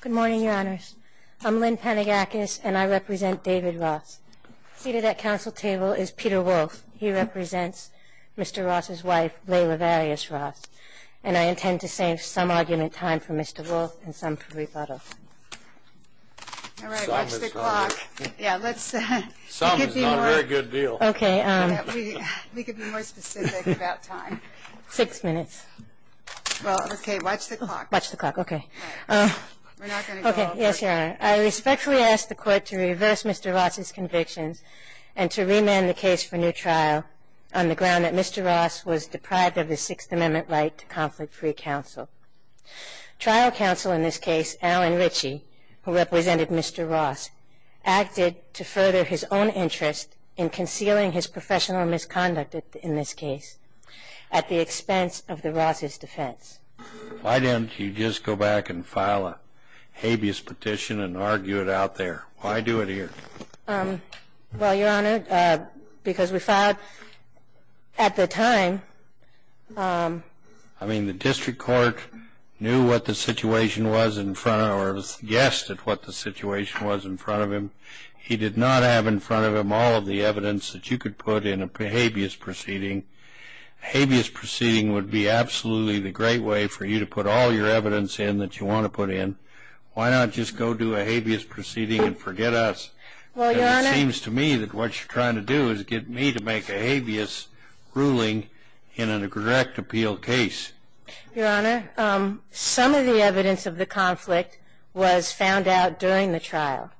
Good morning, your honors. I'm Lynn Panagakis and I represent David Ross. Seated at council table is Peter Wolf. He represents Mr. Ross' wife, Leila Various Ross. And I intend to save some argument time for Mr. Wolf and some for rebuttal. All right, watch the clock. Some is not a very good deal. We can be more specific about time. Six minutes. Well, okay, watch the clock. Okay, yes, your honor. I respectfully ask the court to reverse Mr. Ross' convictions and to remand the case for new trial on the ground that Mr. Ross was deprived of his Sixth Amendment right to conflict-free counsel. Trial counsel in this case, Alan Ritchie, who represented Mr. Ross, acted to further his own interest in concealing his professional misconduct in this case at the expense of the Ross' defense. Why didn't you just go back and file a habeas petition and argue it out there? Why do it here? Well, your honor, because we filed at the time. I mean, the district court knew what the situation was in front of or guessed at what the situation was in front of him. He did not have in front of him all of the evidence that you could put in a habeas proceeding. A habeas proceeding would be absolutely the great way for you to put all your evidence in that you want to put in. Why not just go do a habeas proceeding and forget us? Well, your honor. It seems to me that what you're trying to do is get me to make a habeas ruling in a direct appeal case. Your honor, some of the evidence of the conflict was found out during the trial.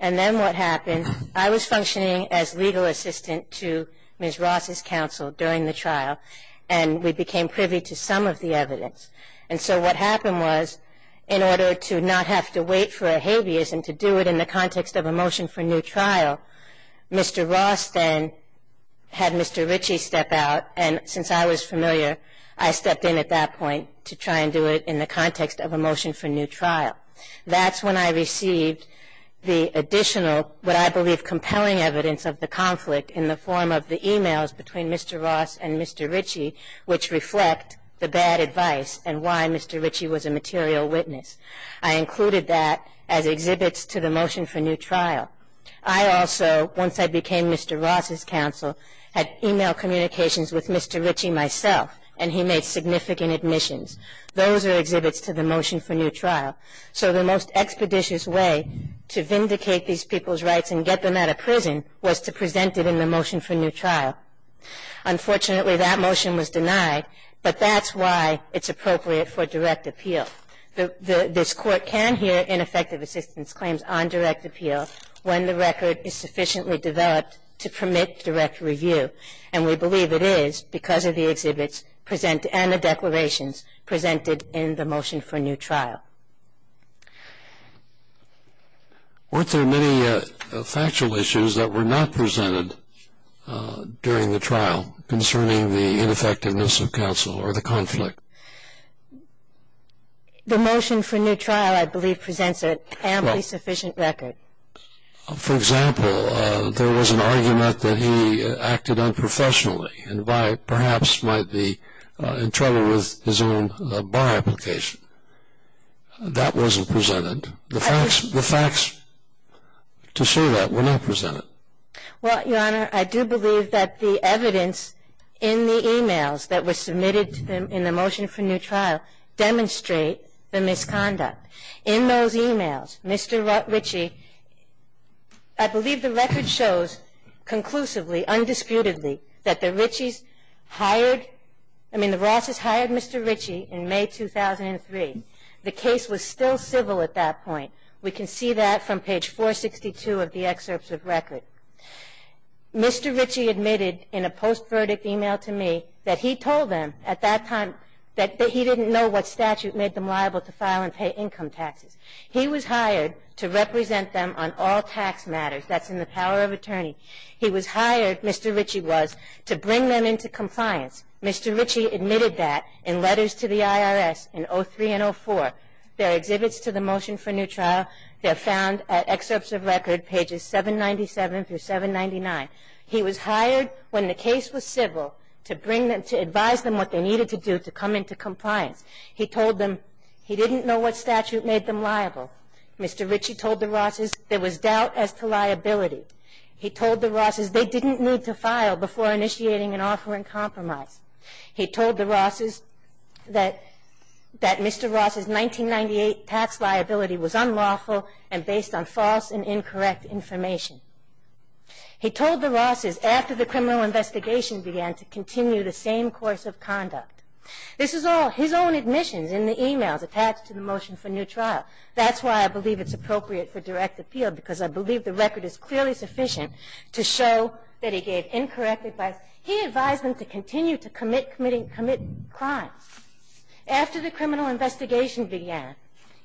And then what happened, I was functioning as legal assistant to Ms. Ross' counsel during the trial, and we became privy to some of the evidence. And so what happened was, in order to not have to wait for a habeas and to do it in the context of a motion for new trial, Mr. Ross then had Mr. Ritchie step out, and since I was familiar, I stepped in at that point to try and do it in the context of a motion for new trial. That's when I received the additional, what I believe compelling evidence of the conflict in the form of the e-mails between Mr. Ross and Mr. Ritchie, which reflect the bad advice and why Mr. Ritchie was a material witness. I included that as exhibits to the motion for new trial. I also, once I became Mr. Ross' counsel, had e-mail communications with Mr. Ritchie myself, and he made significant admissions. Those are exhibits to the motion for new trial. So the most expeditious way to vindicate these people's rights and get them out of prison was to present it in the motion for new trial. Unfortunately, that motion was denied, but that's why it's appropriate for direct appeal. This Court can hear ineffective assistance claims on direct appeal when the record is sufficiently developed to permit direct review. And we believe it is because of the exhibits and the declarations presented in the motion for new trial. Weren't there many factual issues that were not presented during the trial concerning the ineffectiveness of counsel or the conflict? The motion for new trial, I believe, presents an amply sufficient record. For example, there was an argument that he acted unprofessionally and perhaps might be in trouble with his own bar application. That wasn't presented. The facts to show that were not presented. Well, Your Honor, I do believe that the evidence in the e-mails that were submitted in the motion for new trial demonstrate the misconduct. In those e-mails, Mr. Ritchie, I believe the record shows conclusively, undisputedly, that the Ritchies hired, I mean, the Rosses hired Mr. Ritchie in May 2003. The case was still civil at that point. We can see that from page 462 of the excerpts of record. Mr. Ritchie admitted in a post-verdict e-mail to me that he told them at that time that he didn't know what statute made them liable to file and pay income taxes. He was hired to represent them on all tax matters. That's in the power of attorney. He was hired, Mr. Ritchie was, to bring them into compliance. Mr. Ritchie admitted that in letters to the IRS in 2003 and 2004. There are exhibits to the motion for new trial. They're found at excerpts of record, pages 797 through 799. He was hired when the case was civil to bring them, to advise them what they needed to do to come into compliance. He told them he didn't know what statute made them liable. Mr. Ritchie told the Rosses there was doubt as to liability. He told the Rosses they didn't need to file before initiating an offer in compromise. He told the Rosses that Mr. Ross's 1998 tax liability was unlawful and based on false and incorrect information. He told the Rosses after the criminal investigation began to continue the same course of conduct. This is all his own admissions in the emails attached to the motion for new trial. That's why I believe it's appropriate for direct appeal because I believe the record is clearly sufficient to show that he gave incorrect advice. He advised them to continue to commit crimes. After the criminal investigation began,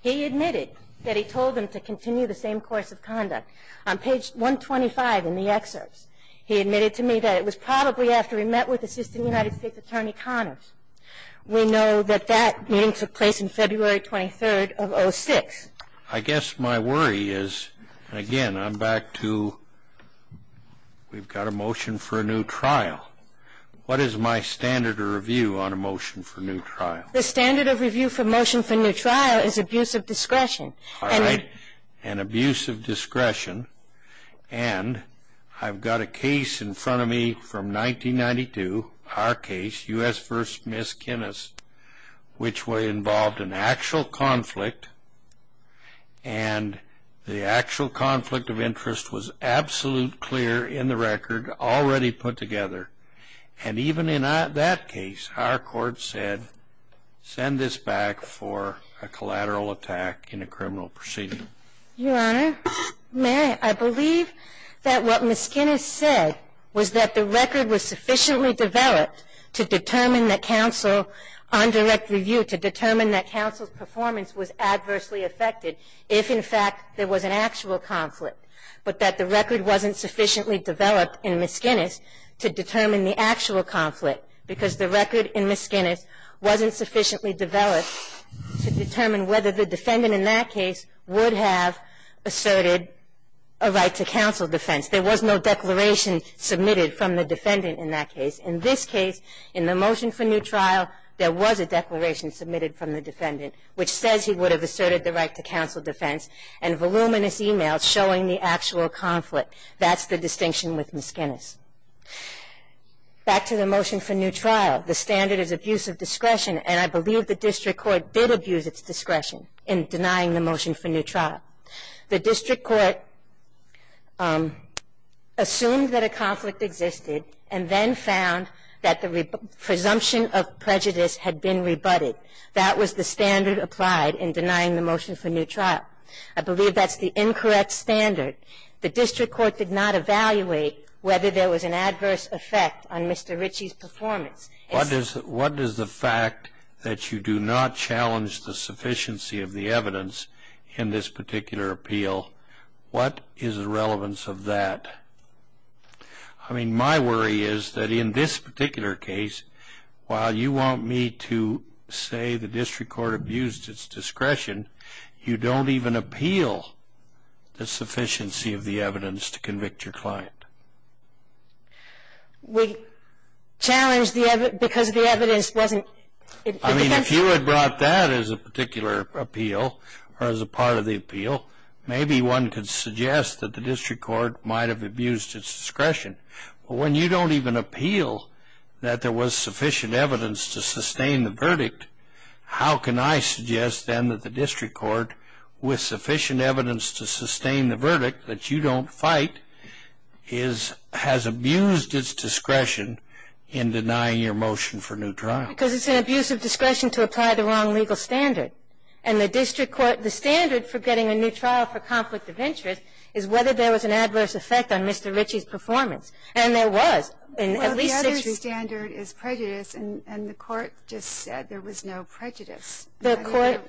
he admitted that he told them to continue the same course of conduct. On page 125 in the excerpts, he admitted to me that it was probably after he met with Assistant United States Attorney Connors. We know that that meeting took place on February 23rd of 06. I guess my worry is, again, I'm back to we've got a motion for a new trial. What is my standard of review on a motion for a new trial? The standard of review for a motion for a new trial is abuse of discretion. All right. And abuse of discretion. And I've got a case in front of me from 1992, our case, U.S. v. Miss Kinnes, which involved an actual conflict. And the actual conflict of interest was absolute clear in the record, already put together. And even in that case, our court said, send this back for a collateral attack in a criminal proceeding. Your Honor, may I believe that what Miss Kinnes said was that the record was sufficiently developed to determine that counsel on direct review, to determine that counsel's performance was adversely affected if, in fact, there was an actual conflict. But that the record wasn't sufficiently developed in Miss Kinnes to determine the actual conflict, because the record in Miss Kinnes wasn't sufficiently developed to determine whether the defendant in that case would have asserted a right to counsel defense. There was no declaration submitted from the defendant in that case. In this case, in the motion for new trial, there was a declaration submitted from the defendant, which says he would have asserted the right to counsel defense, and voluminous emails showing the actual conflict. That's the distinction with Miss Kinnes. Back to the motion for new trial. The standard is abuse of discretion, and I believe the district court did abuse its discretion in denying the motion for new trial. The district court assumed that a conflict existed and then found that the presumption of prejudice had been rebutted. That was the standard applied in denying the motion for new trial. I believe that's the incorrect standard. The district court did not evaluate whether there was an adverse effect on Mr. Ritchie's performance. What does the fact that you do not challenge the sufficiency of the evidence in this particular appeal, what is the relevance of that? I mean, my worry is that in this particular case, while you want me to say the district court abused its discretion, you don't even appeal the sufficiency of the evidence to convict your client. We challenged because the evidence wasn't... I mean, if you had brought that as a particular appeal or as a part of the appeal, maybe one could suggest that the district court might have abused its discretion. But when you don't even appeal that there was sufficient evidence to sustain the verdict, how can I suggest then that the district court, with sufficient evidence to sustain the verdict that you don't fight, has abused its discretion in denying your motion for new trial? Because it's an abuse of discretion to apply the wrong legal standard. And the district court, the standard for getting a new trial for conflict of interest is whether there was an adverse effect on Mr. Ritchie's performance. And there was. Well, the other standard is prejudice, and the court just said there was no prejudice. The court...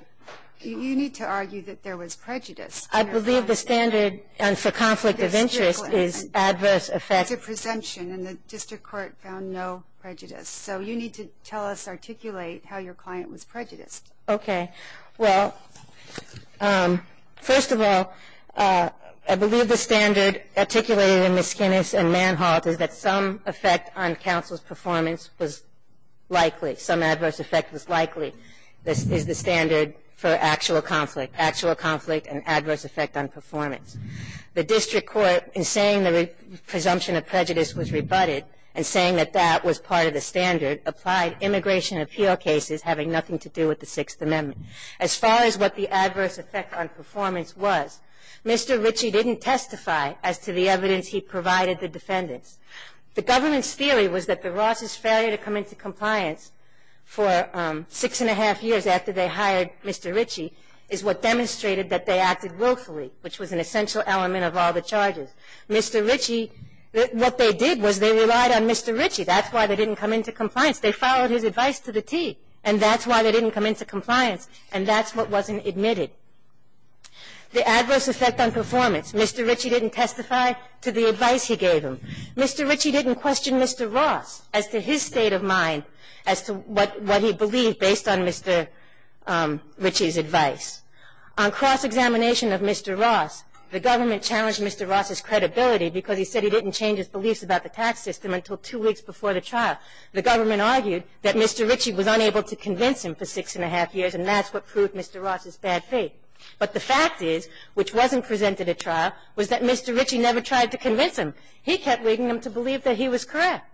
You need to argue that there was prejudice. I believe the standard for conflict of interest is adverse effect. It's a presumption, and the district court found no prejudice. So you need to tell us, articulate how your client was prejudiced. Okay. Well, first of all, I believe the standard articulated in Miskinnis and Manholt is that some effect on counsel's performance was likely, some adverse effect was likely, is the standard for actual conflict, actual conflict and adverse effect on performance. The district court, in saying the presumption of prejudice was rebutted and saying that that was part of the standard, applied immigration appeal cases having nothing to do with the Sixth Amendment. As far as what the adverse effect on performance was, Mr. Ritchie didn't testify as to the evidence he provided the defendants. The government's theory was that the Ross's failure to come into compliance for six and a half years after they hired Mr. Ritchie is what demonstrated that they acted willfully, which was an essential element of all the charges. Mr. Ritchie, what they did was they relied on Mr. Ritchie. That's why they didn't come into compliance. They followed his advice to the T, and that's why they didn't come into compliance, and that's what wasn't admitted. The adverse effect on performance, Mr. Ritchie didn't testify to the advice he gave him. Mr. Ritchie didn't question Mr. Ross as to his state of mind, as to what he believed based on Mr. Ritchie's advice. On cross-examination of Mr. Ross, the government challenged Mr. Ross's credibility because he said he didn't change his beliefs about the tax system until two weeks before the trial. The government argued that Mr. Ritchie was unable to convince him for six and a half years, and that's what proved Mr. Ross's bad faith. But the fact is, which wasn't presented at trial, was that Mr. Ritchie never tried to convince him. He kept leading them to believe that he was correct.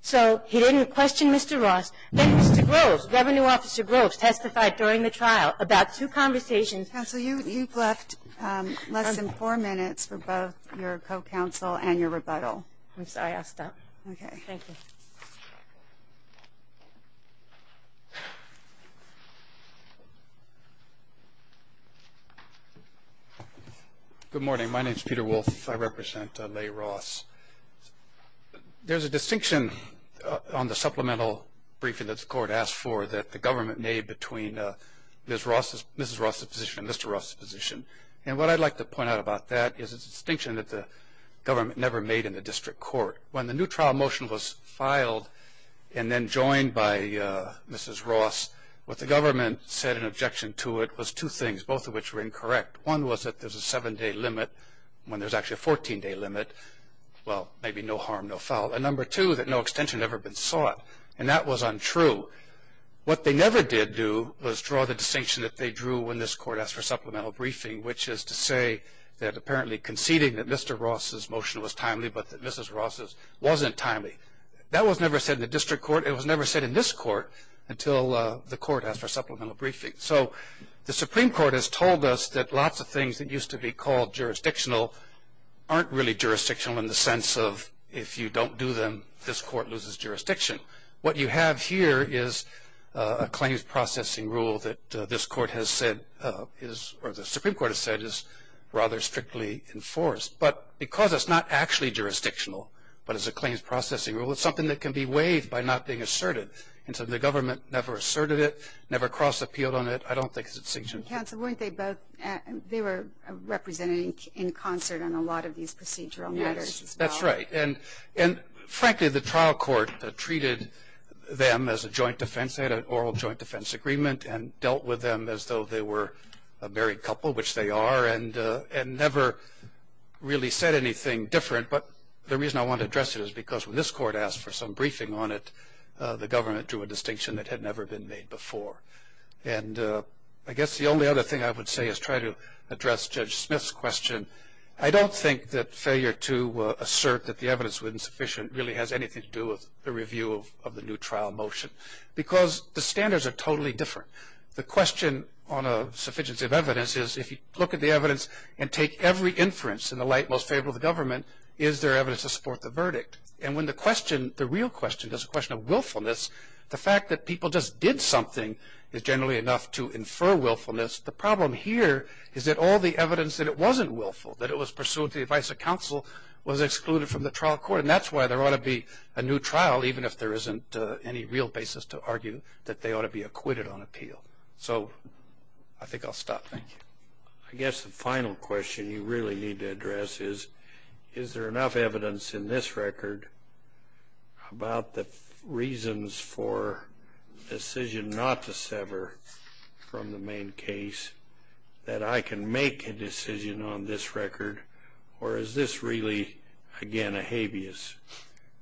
So he didn't question Mr. Ross. Then Mr. Groves, Revenue Officer Groves, testified during the trial about two conversations Counsel, you've left less than four minutes for both your co-counsel and your rebuttal. Oops, I asked that. Okay. Thank you. Good morning. My name is Peter Wolfe. I represent Leigh Ross. There's a distinction on the supplemental briefing that the court asked for that the government made between Mrs. Ross's position and Mr. Ross's position. And what I'd like to point out about that is a distinction that the government never made in the district court. When the new trial motion was filed and then joined by Mrs. Ross, what the government said in objection to it was two things, both of which were incorrect. One was that there's a seven-day limit when there's actually a 14-day limit. Well, maybe no harm, no foul. And number two, that no extension had ever been sought. And that was untrue. What they never did do was draw the distinction that they drew when this court asked for supplemental briefing, which is to say that apparently conceding that Mr. Ross's motion was timely but that Mrs. Ross's wasn't timely. That was never said in the district court. It was never said in this court until the court asked for supplemental briefing. So the Supreme Court has told us that lots of things that used to be called jurisdictional aren't really jurisdictional in the sense of if you don't do them, this court loses jurisdiction. What you have here is a claims processing rule that this court has said is, or the Supreme Court has said is rather strictly enforced. But because it's not actually jurisdictional but is a claims processing rule, it's something that can be waived by not being asserted. And so the government never asserted it, never cross-appealed on it. I don't think it's a distinction. Counsel, weren't they both? They were represented in concert on a lot of these procedural matters as well. Yes, that's right. And, frankly, the trial court treated them as a joint defense. They had an oral joint defense agreement and dealt with them as though they were a married couple, which they are, and never really said anything different. But the reason I want to address it is because when this court asked for some briefing on it, the government drew a distinction that had never been made before. And I guess the only other thing I would say is try to address Judge Smith's question. I don't think that failure to assert that the evidence was insufficient really has anything to do with the review of the new trial motion because the standards are totally different. The question on a sufficiency of evidence is if you look at the evidence and take every inference in the light most favorable to the government, is there evidence to support the verdict? And when the question, the real question, is a question of willfulness, the fact that people just did something is generally enough to infer willfulness. The problem here is that all the evidence that it wasn't willful, that it was pursuant to the advice of counsel, was excluded from the trial court. And that's why there ought to be a new trial, even if there isn't any real basis to argue that they ought to be acquitted on appeal. So I think I'll stop. Thank you. I guess the final question you really need to address is, is there enough evidence in this record about the reasons for decision not to sever from the main case that I can make a decision on this record, or is this really, again, a habeas?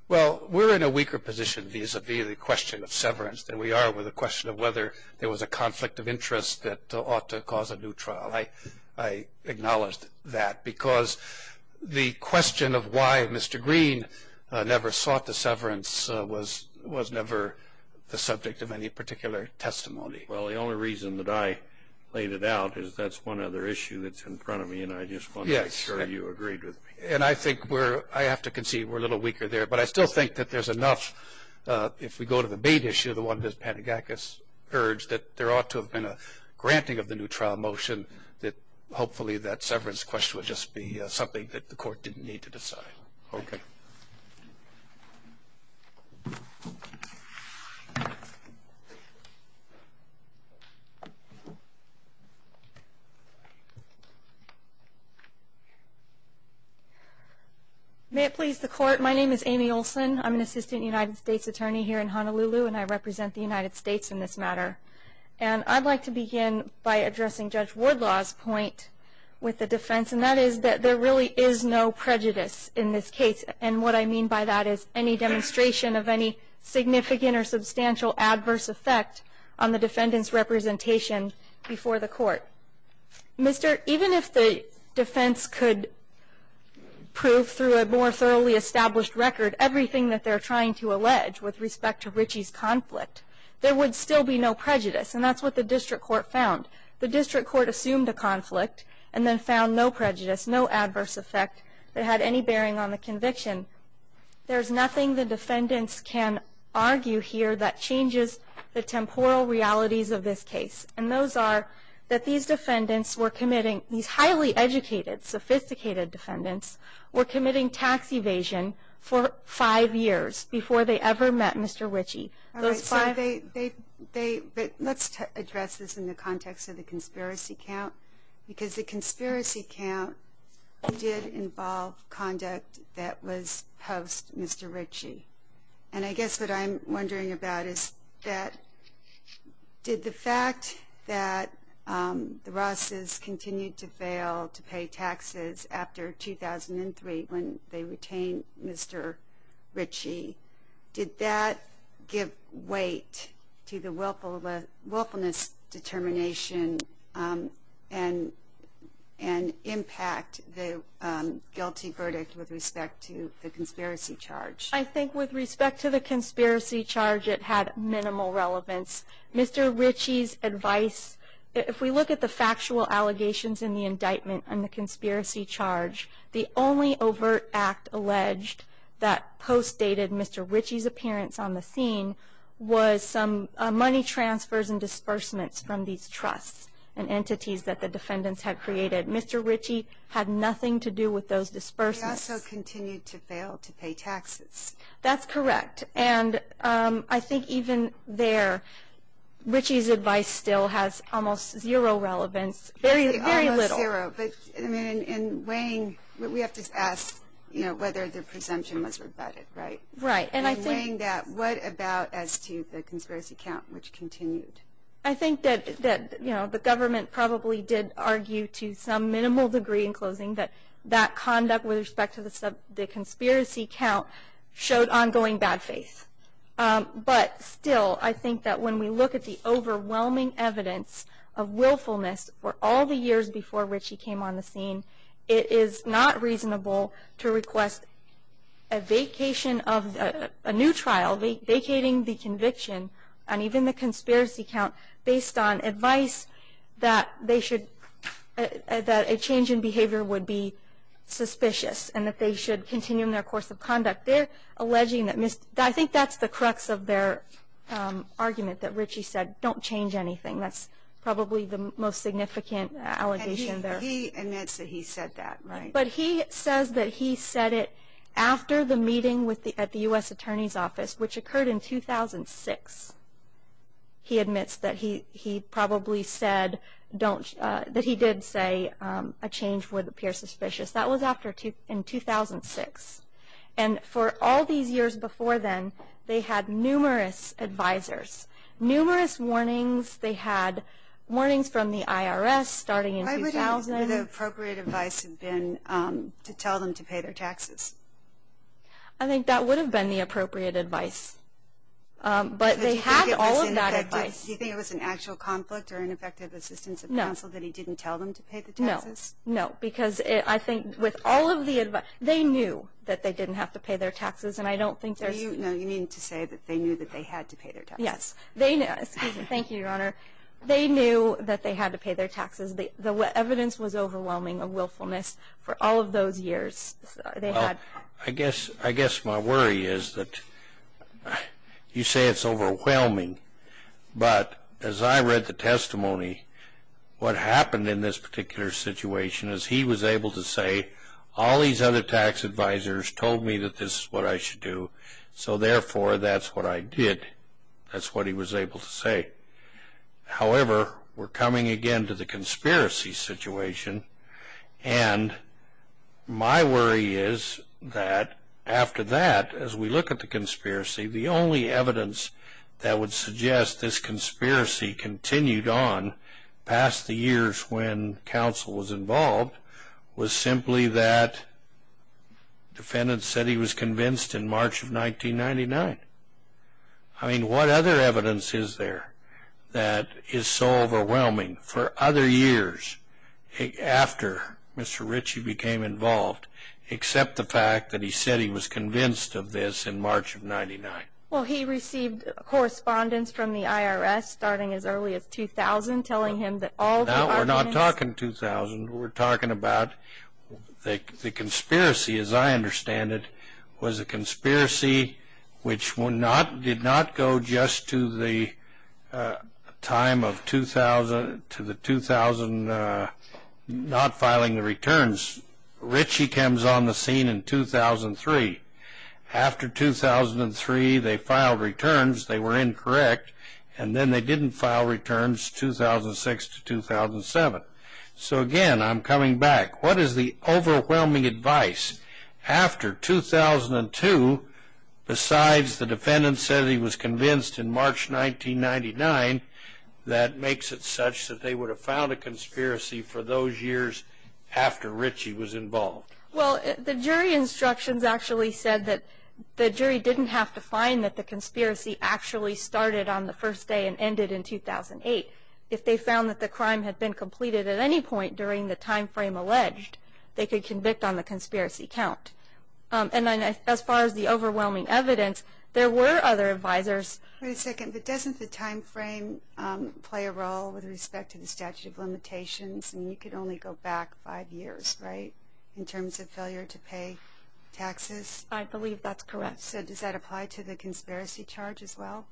Well, we're in a weaker position vis-a-vis the question of severance than we are with the question of whether there was a conflict of interest that ought to cause a new trial. I acknowledge that, because the question of why Mr. Green never sought the severance was never the subject of any particular testimony. Well, the only reason that I laid it out is that's one other issue that's in front of me, and I just wanted to make sure you agreed with me. And I think we're, I have to concede we're a little weaker there, but I still think that there's enough, if we go to the main issue, the one that Patagakis urged, that there ought to have been a granting of the new trial motion, that hopefully that severance question would just be something that the Court didn't need to decide. Okay. May it please the Court, my name is Amy Olson. I'm an assistant United States attorney here in Honolulu, and I represent the United States in this matter. And I'd like to begin by addressing Judge Wardlaw's point with the defense, and that is that there really is no prejudice in this case. And what I mean by that is any demonstration of any significant or substantial adverse effect on the defendant's representation before the Court. Mister, even if the defense could prove through a more thoroughly established record everything that they're trying to allege with respect to Ritchie's conflict, there would still be no prejudice, and that's what the District Court found. The District Court assumed a conflict and then found no prejudice, no adverse effect that had any bearing on the conviction. There's nothing the defendants can argue here that changes the temporal realities of this case. And those are that these defendants were committing, these highly educated, sophisticated defendants, were committing tax evasion for five years before they ever met Mister Ritchie. All right. So they, let's address this in the context of the conspiracy count, because the conspiracy count did involve conduct that was post-Mister Ritchie. And I guess what I'm wondering about is that did the fact that the Rosses continued to fail to pay taxes after 2003 when they retained Mister Ritchie, did that give weight to the willfulness determination and impact the guilty verdict with respect to the conspiracy charge? I think with respect to the conspiracy charge, it had minimal relevance. Mister Ritchie's advice, if we look at the factual allegations in the indictment on the conspiracy charge, the only overt act alleged that post-dated Mister Ritchie's appearance on the scene was some money transfers and disbursements from these trusts and entities that the defendants had created. Mister Ritchie had nothing to do with those disbursements. They also continued to fail to pay taxes. That's correct. And I think even there, Ritchie's advice still has almost zero relevance. Very little. Almost zero. But in weighing, we have to ask whether the presumption was rebutted, right? Right. In weighing that, what about as to the conspiracy count, which continued? I think that the government probably did argue to some minimal degree in closing that that conduct with respect to the conspiracy count showed ongoing bad faith. But still, I think that when we look at the overwhelming evidence of willfulness for all the years before Ritchie came on the scene, it is not reasonable to request a vacation of a new trial, vacating the conviction and even the conspiracy count based on advice that a change in behavior would be suspicious and that they should continue in their course of conduct. I think that's the crux of their argument that Ritchie said, don't change anything. That's probably the most significant allegation there. And he admits that he said that, right? But he says that he said it after the meeting at the U.S. Attorney's Office, which occurred in 2006. He admits that he probably said that he did say a change would appear suspicious. That was in 2006. And for all these years before then, they had numerous advisors, numerous warnings. They had warnings from the IRS starting in 2000. Why wouldn't the appropriate advice have been to tell them to pay their taxes? I think that would have been the appropriate advice. But they had all of that advice. Do you think it was an actual conflict or ineffective assistance of counsel that he didn't tell them to pay the taxes? No. No, because I think with all of the advice, they knew that they didn't have to pay their taxes. And I don't think there's... No, you mean to say that they knew that they had to pay their taxes. Yes. Thank you, Your Honor. They knew that they had to pay their taxes. The evidence was overwhelming of willfulness for all of those years. I guess my worry is that you say it's overwhelming, but as I read the testimony, what happened in this particular situation is he was able to say, all these other tax advisors told me that this is what I should do, so therefore that's what I did. That's what he was able to say. However, we're coming again to the conspiracy situation. And my worry is that after that, as we look at the conspiracy, the only evidence that would suggest this conspiracy continued on past the years when counsel was involved was simply that defendants said he was convinced in March of 1999. I mean, what other evidence is there that is so overwhelming for other years after Mr. Ritchie became involved, except the fact that he said he was convinced of this in March of 1999? Well, he received correspondence from the IRS starting as early as 2000 telling him that all the arguments... No, we're not talking 2000. We're talking about the conspiracy, as I understand it, was a conspiracy which did not go just to the time of 2000 not filing the returns. Ritchie comes on the scene in 2003. After 2003, they filed returns. They were incorrect, and then they didn't file returns 2006 to 2007. So again, I'm coming back. What is the overwhelming advice? After 2002, besides the defendant said he was convinced in March 1999, that makes it such that they would have filed a conspiracy for those years after Ritchie was involved. Well, the jury instructions actually said that the jury didn't have to find that the conspiracy actually started on the first day and ended in 2008. If they found that the crime had been completed at any point during the time frame alleged, they could convict on the conspiracy count. And as far as the overwhelming evidence, there were other advisors. Wait a second. But doesn't the time frame play a role with respect to the statute of limitations? I mean, you could only go back five years, right, in terms of failure to pay taxes? I believe that's correct. So does that apply to the conspiracy charge as well?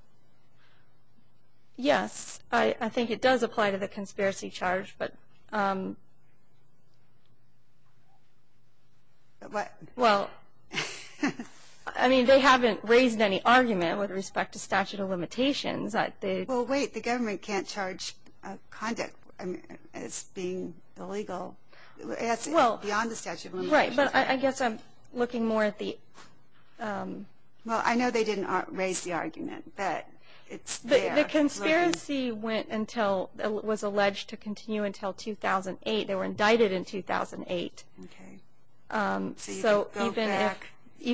Yes. I think it does apply to the conspiracy charge. What? Well, I mean, they haven't raised any argument with respect to statute of limitations. Well, wait. The government can't charge conduct as being illegal. It has to be beyond the statute of limitations. Right. But I guess I'm looking more at the – Well, I know they didn't raise the argument, but it's – The conspiracy went until – was alleged to continue until 2008. They were indicted in 2008. Okay. So even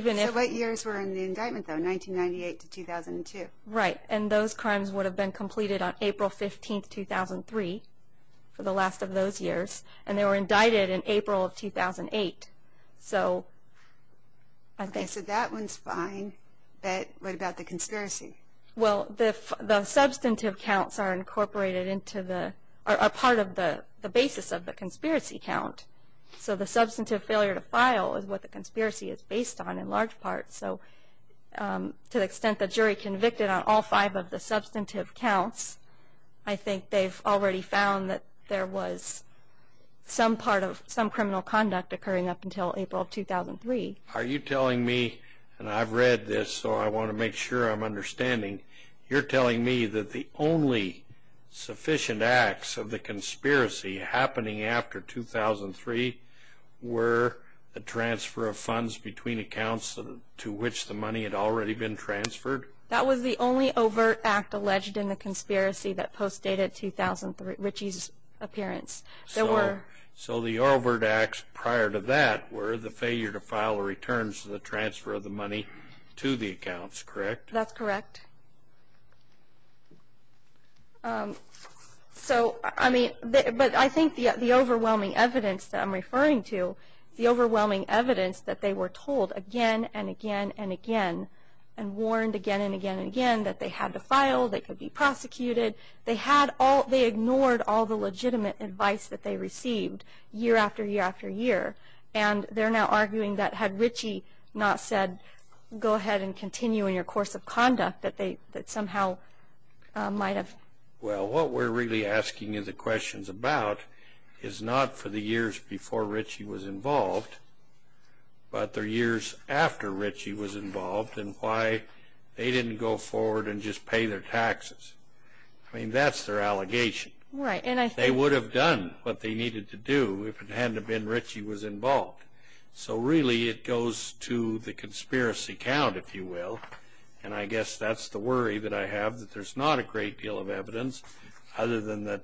if – So what years were in the indictment, though? 1998 to 2002? Right. And those crimes would have been completed on April 15, 2003, for the last of those years. And they were indicted in April of 2008. So I think – But what about the conspiracy? Well, the substantive counts are incorporated into the – are part of the basis of the conspiracy count. So the substantive failure to file is what the conspiracy is based on in large part. So to the extent the jury convicted on all five of the substantive counts, I think they've already found that there was some part of – some criminal conduct occurring up until April of 2003. Are you telling me – and I've read this, so I want to make sure I'm understanding. You're telling me that the only sufficient acts of the conspiracy happening after 2003 were the transfer of funds between accounts to which the money had already been transferred? That was the only overt act alleged in the conspiracy that postdated Richie's appearance. There were – So the overt acts prior to that were the failure to file returns to the transfer of the money to the accounts, correct? That's correct. So, I mean – but I think the overwhelming evidence that I'm referring to, the overwhelming evidence that they were told again and again and again and warned again and again and again that they had to file, they could be prosecuted. They had all – they ignored all the legitimate advice that they received year after year after year. And they're now arguing that had Richie not said go ahead and continue in your course of conduct, that they – that somehow might have – Well, what we're really asking you the questions about is not for the years before Richie was involved, but the years after Richie was involved and why they didn't go forward and just pay their taxes. I mean, that's their allegation. Right, and I think – They would have done what they needed to do if it hadn't have been Richie was involved. So, really, it goes to the conspiracy count, if you will, and I guess that's the worry that I have that there's not a great deal of evidence other than that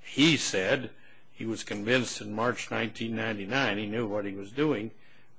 he said he was convinced in March 1999 he knew what he was doing.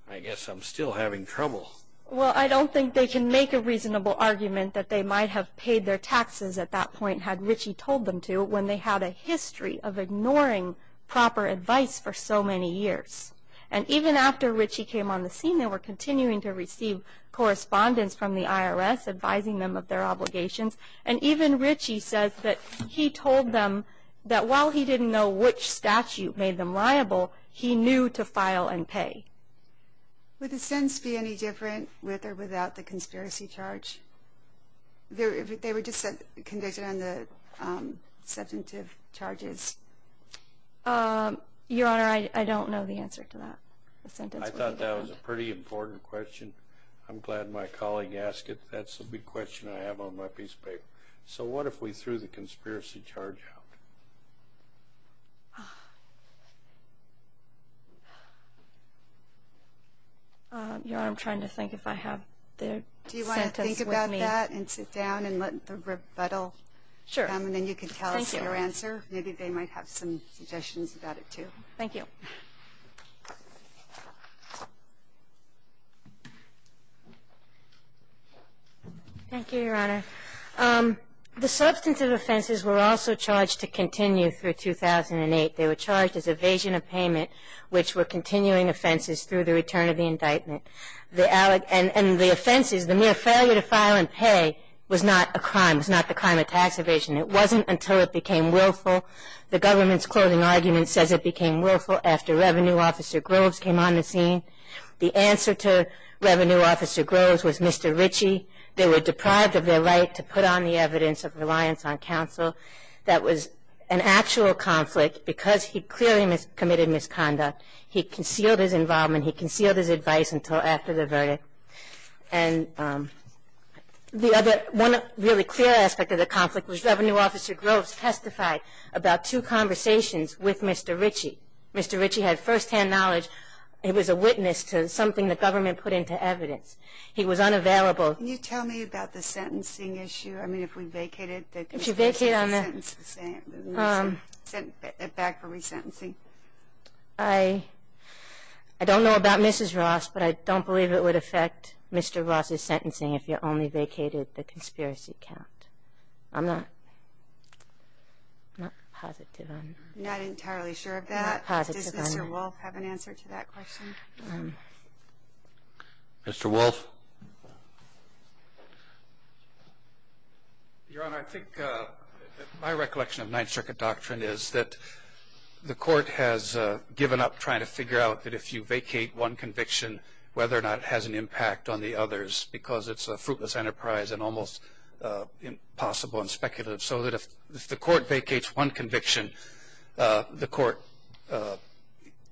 I guess I'm still having trouble. Well, I don't think they can make a reasonable argument that they might have paid their taxes at that point had Richie told them to when they had a history of ignoring proper advice for so many years. And even after Richie came on the scene, they were continuing to receive correspondence from the IRS advising them of their obligations. And even Richie says that he told them that while he didn't know which statute made them liable, he knew to file and pay. Would the sentence be any different with or without the conspiracy charge? They were just convicted on the substantive charges. Your Honor, I don't know the answer to that. I thought that was a pretty important question. I'm glad my colleague asked it. That's the big question I have on my piece of paper. So what if we threw the conspiracy charge out? Your Honor, I'm trying to think if I have their sentence with me. Do you want to think about that and sit down and let the rebuttal come and then you can tell us your answer? Maybe they might have some suggestions about it too. Thank you. Thank you, Your Honor. The substantive offenses were also charged to continue through 2008. They were charged as evasion of payment, which were continuing offenses through the return of the indictment. And the offenses, the mere failure to file and pay, was not a crime. It was not the crime of tax evasion. It wasn't until it became willful. The government's closing argument says it became willful after Revenue Officer Groves came on the scene. The answer to Revenue Officer Groves was Mr. Ritchie. They were deprived of their right to put on the evidence of reliance on counsel. That was an actual conflict because he clearly committed misconduct. He concealed his involvement. He concealed his advice until after the verdict. And one really clear aspect of the conflict was Revenue Officer Groves testified about two conversations with Mr. Ritchie. Mr. Ritchie had first-hand knowledge. He was a witness to something the government put into evidence. He was unavailable. Can you tell me about the sentencing issue? I mean, if we vacate it. If you vacate on that. Sent back for resentencing. I don't know about Mrs. Ross, but I don't believe it would affect Mr. Ross's sentencing if you only vacated the conspiracy count. I'm not positive on it. I'm not entirely sure of that. I'm not positive on it. Does Mr. Wolf have an answer to that question? Mr. Wolf? Your Honor, I think my recollection of Ninth Circuit doctrine is that the court has given up trying to figure out that if you vacate one conviction, whether or not it has an impact on the others, because it's a fruitless enterprise and almost impossible and speculative. So that if the court vacates one conviction, the court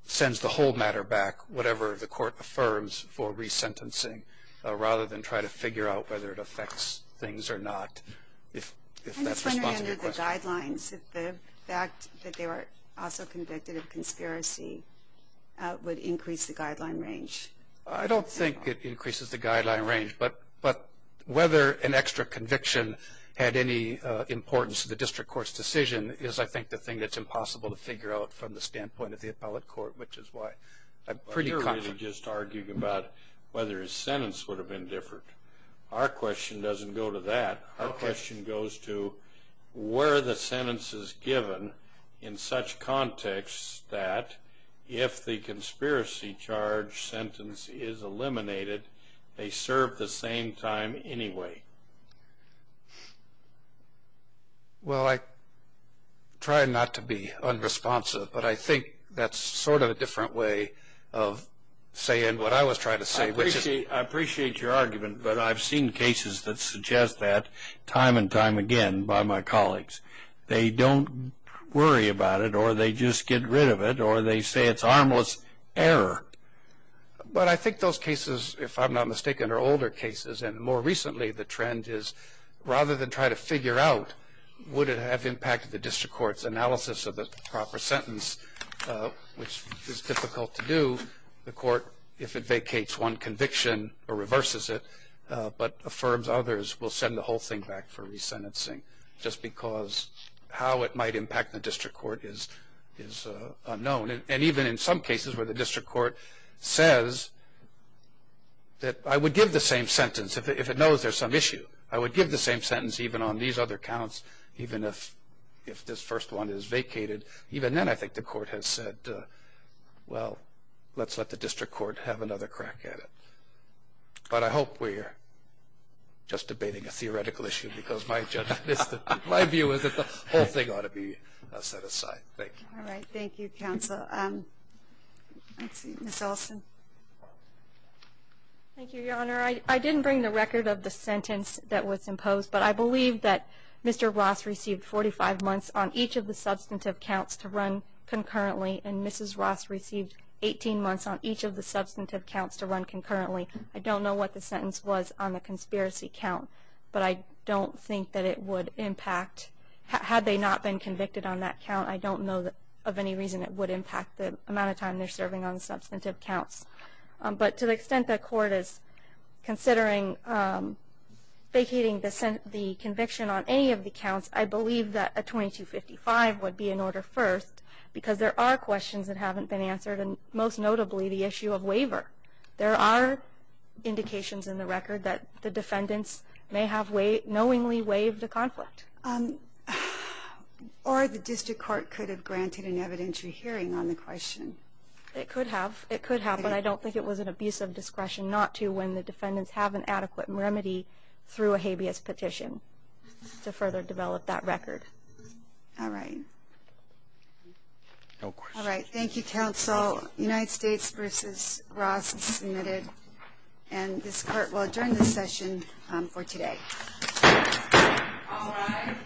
sends the whole matter back, whatever the court affirms for resentencing, rather than try to figure out whether it affects things or not. I'm just wondering under the guidelines, if the fact that they were also convicted of conspiracy would increase the guideline range. I don't think it increases the guideline range, but whether an extra conviction had any importance to the district court's decision is, I think, the thing that's impossible to figure out from the standpoint of the appellate court, which is why I'm pretty confident. You're really just arguing about whether his sentence would have been different. Our question doesn't go to that. Our question goes to where the sentence is given in such context that if the conspiracy charge sentence is eliminated, they serve the same time anyway. Well, I try not to be unresponsive, but I think that's sort of a different way of saying what I was trying to say. I appreciate your argument, but I've seen cases that suggest that time and time again by my colleagues. They don't worry about it, or they just get rid of it, or they say it's harmless error. But I think those cases, if I'm not mistaken, are older cases, and more recently the trend is rather than try to figure out would it have impacted the district court's analysis of the proper sentence, which is difficult to do. The court, if it vacates one conviction or reverses it, but affirms others, will send the whole thing back for resentencing, just because how it might impact the district court is unknown. And even in some cases where the district court says that I would give the same sentence if it knows there's some issue. I would give the same sentence even on these other counts, even if this first one is vacated. Even then I think the court has said, well, let's let the district court have another crack at it. But I hope we're just debating a theoretical issue, because my view is that the whole thing ought to be set aside. Thank you. All right. Thank you, counsel. Let's see. Ms. Olson. Thank you, Your Honor. I didn't bring the record of the sentence that was imposed, but I believe that Mr. Ross received 45 months on each of the substantive counts to run concurrently, and Mrs. Ross received 18 months on each of the substantive counts to run concurrently. I don't know what the sentence was on the conspiracy count, but I don't think that it would impact. Had they not been convicted on that count, I don't know of any reason it would impact the amount of time they're serving on the substantive counts. But to the extent the court is considering vacating the conviction on any of the counts, I believe that a 2255 would be in order first, because there are questions that haven't been answered, and most notably the issue of waiver. There are indications in the record that the defendants may have knowingly waived the conflict. Or the district court could have granted an evidentiary hearing on the question. It could have. It could have, but I don't think it was an abuse of discretion not to when the defendants have an adequate remedy through a habeas petition to further develop that record. All right. No questions. All right. Thank you, counsel. United States v. Ross is submitted. And this court will adjourn this session for today. All rise.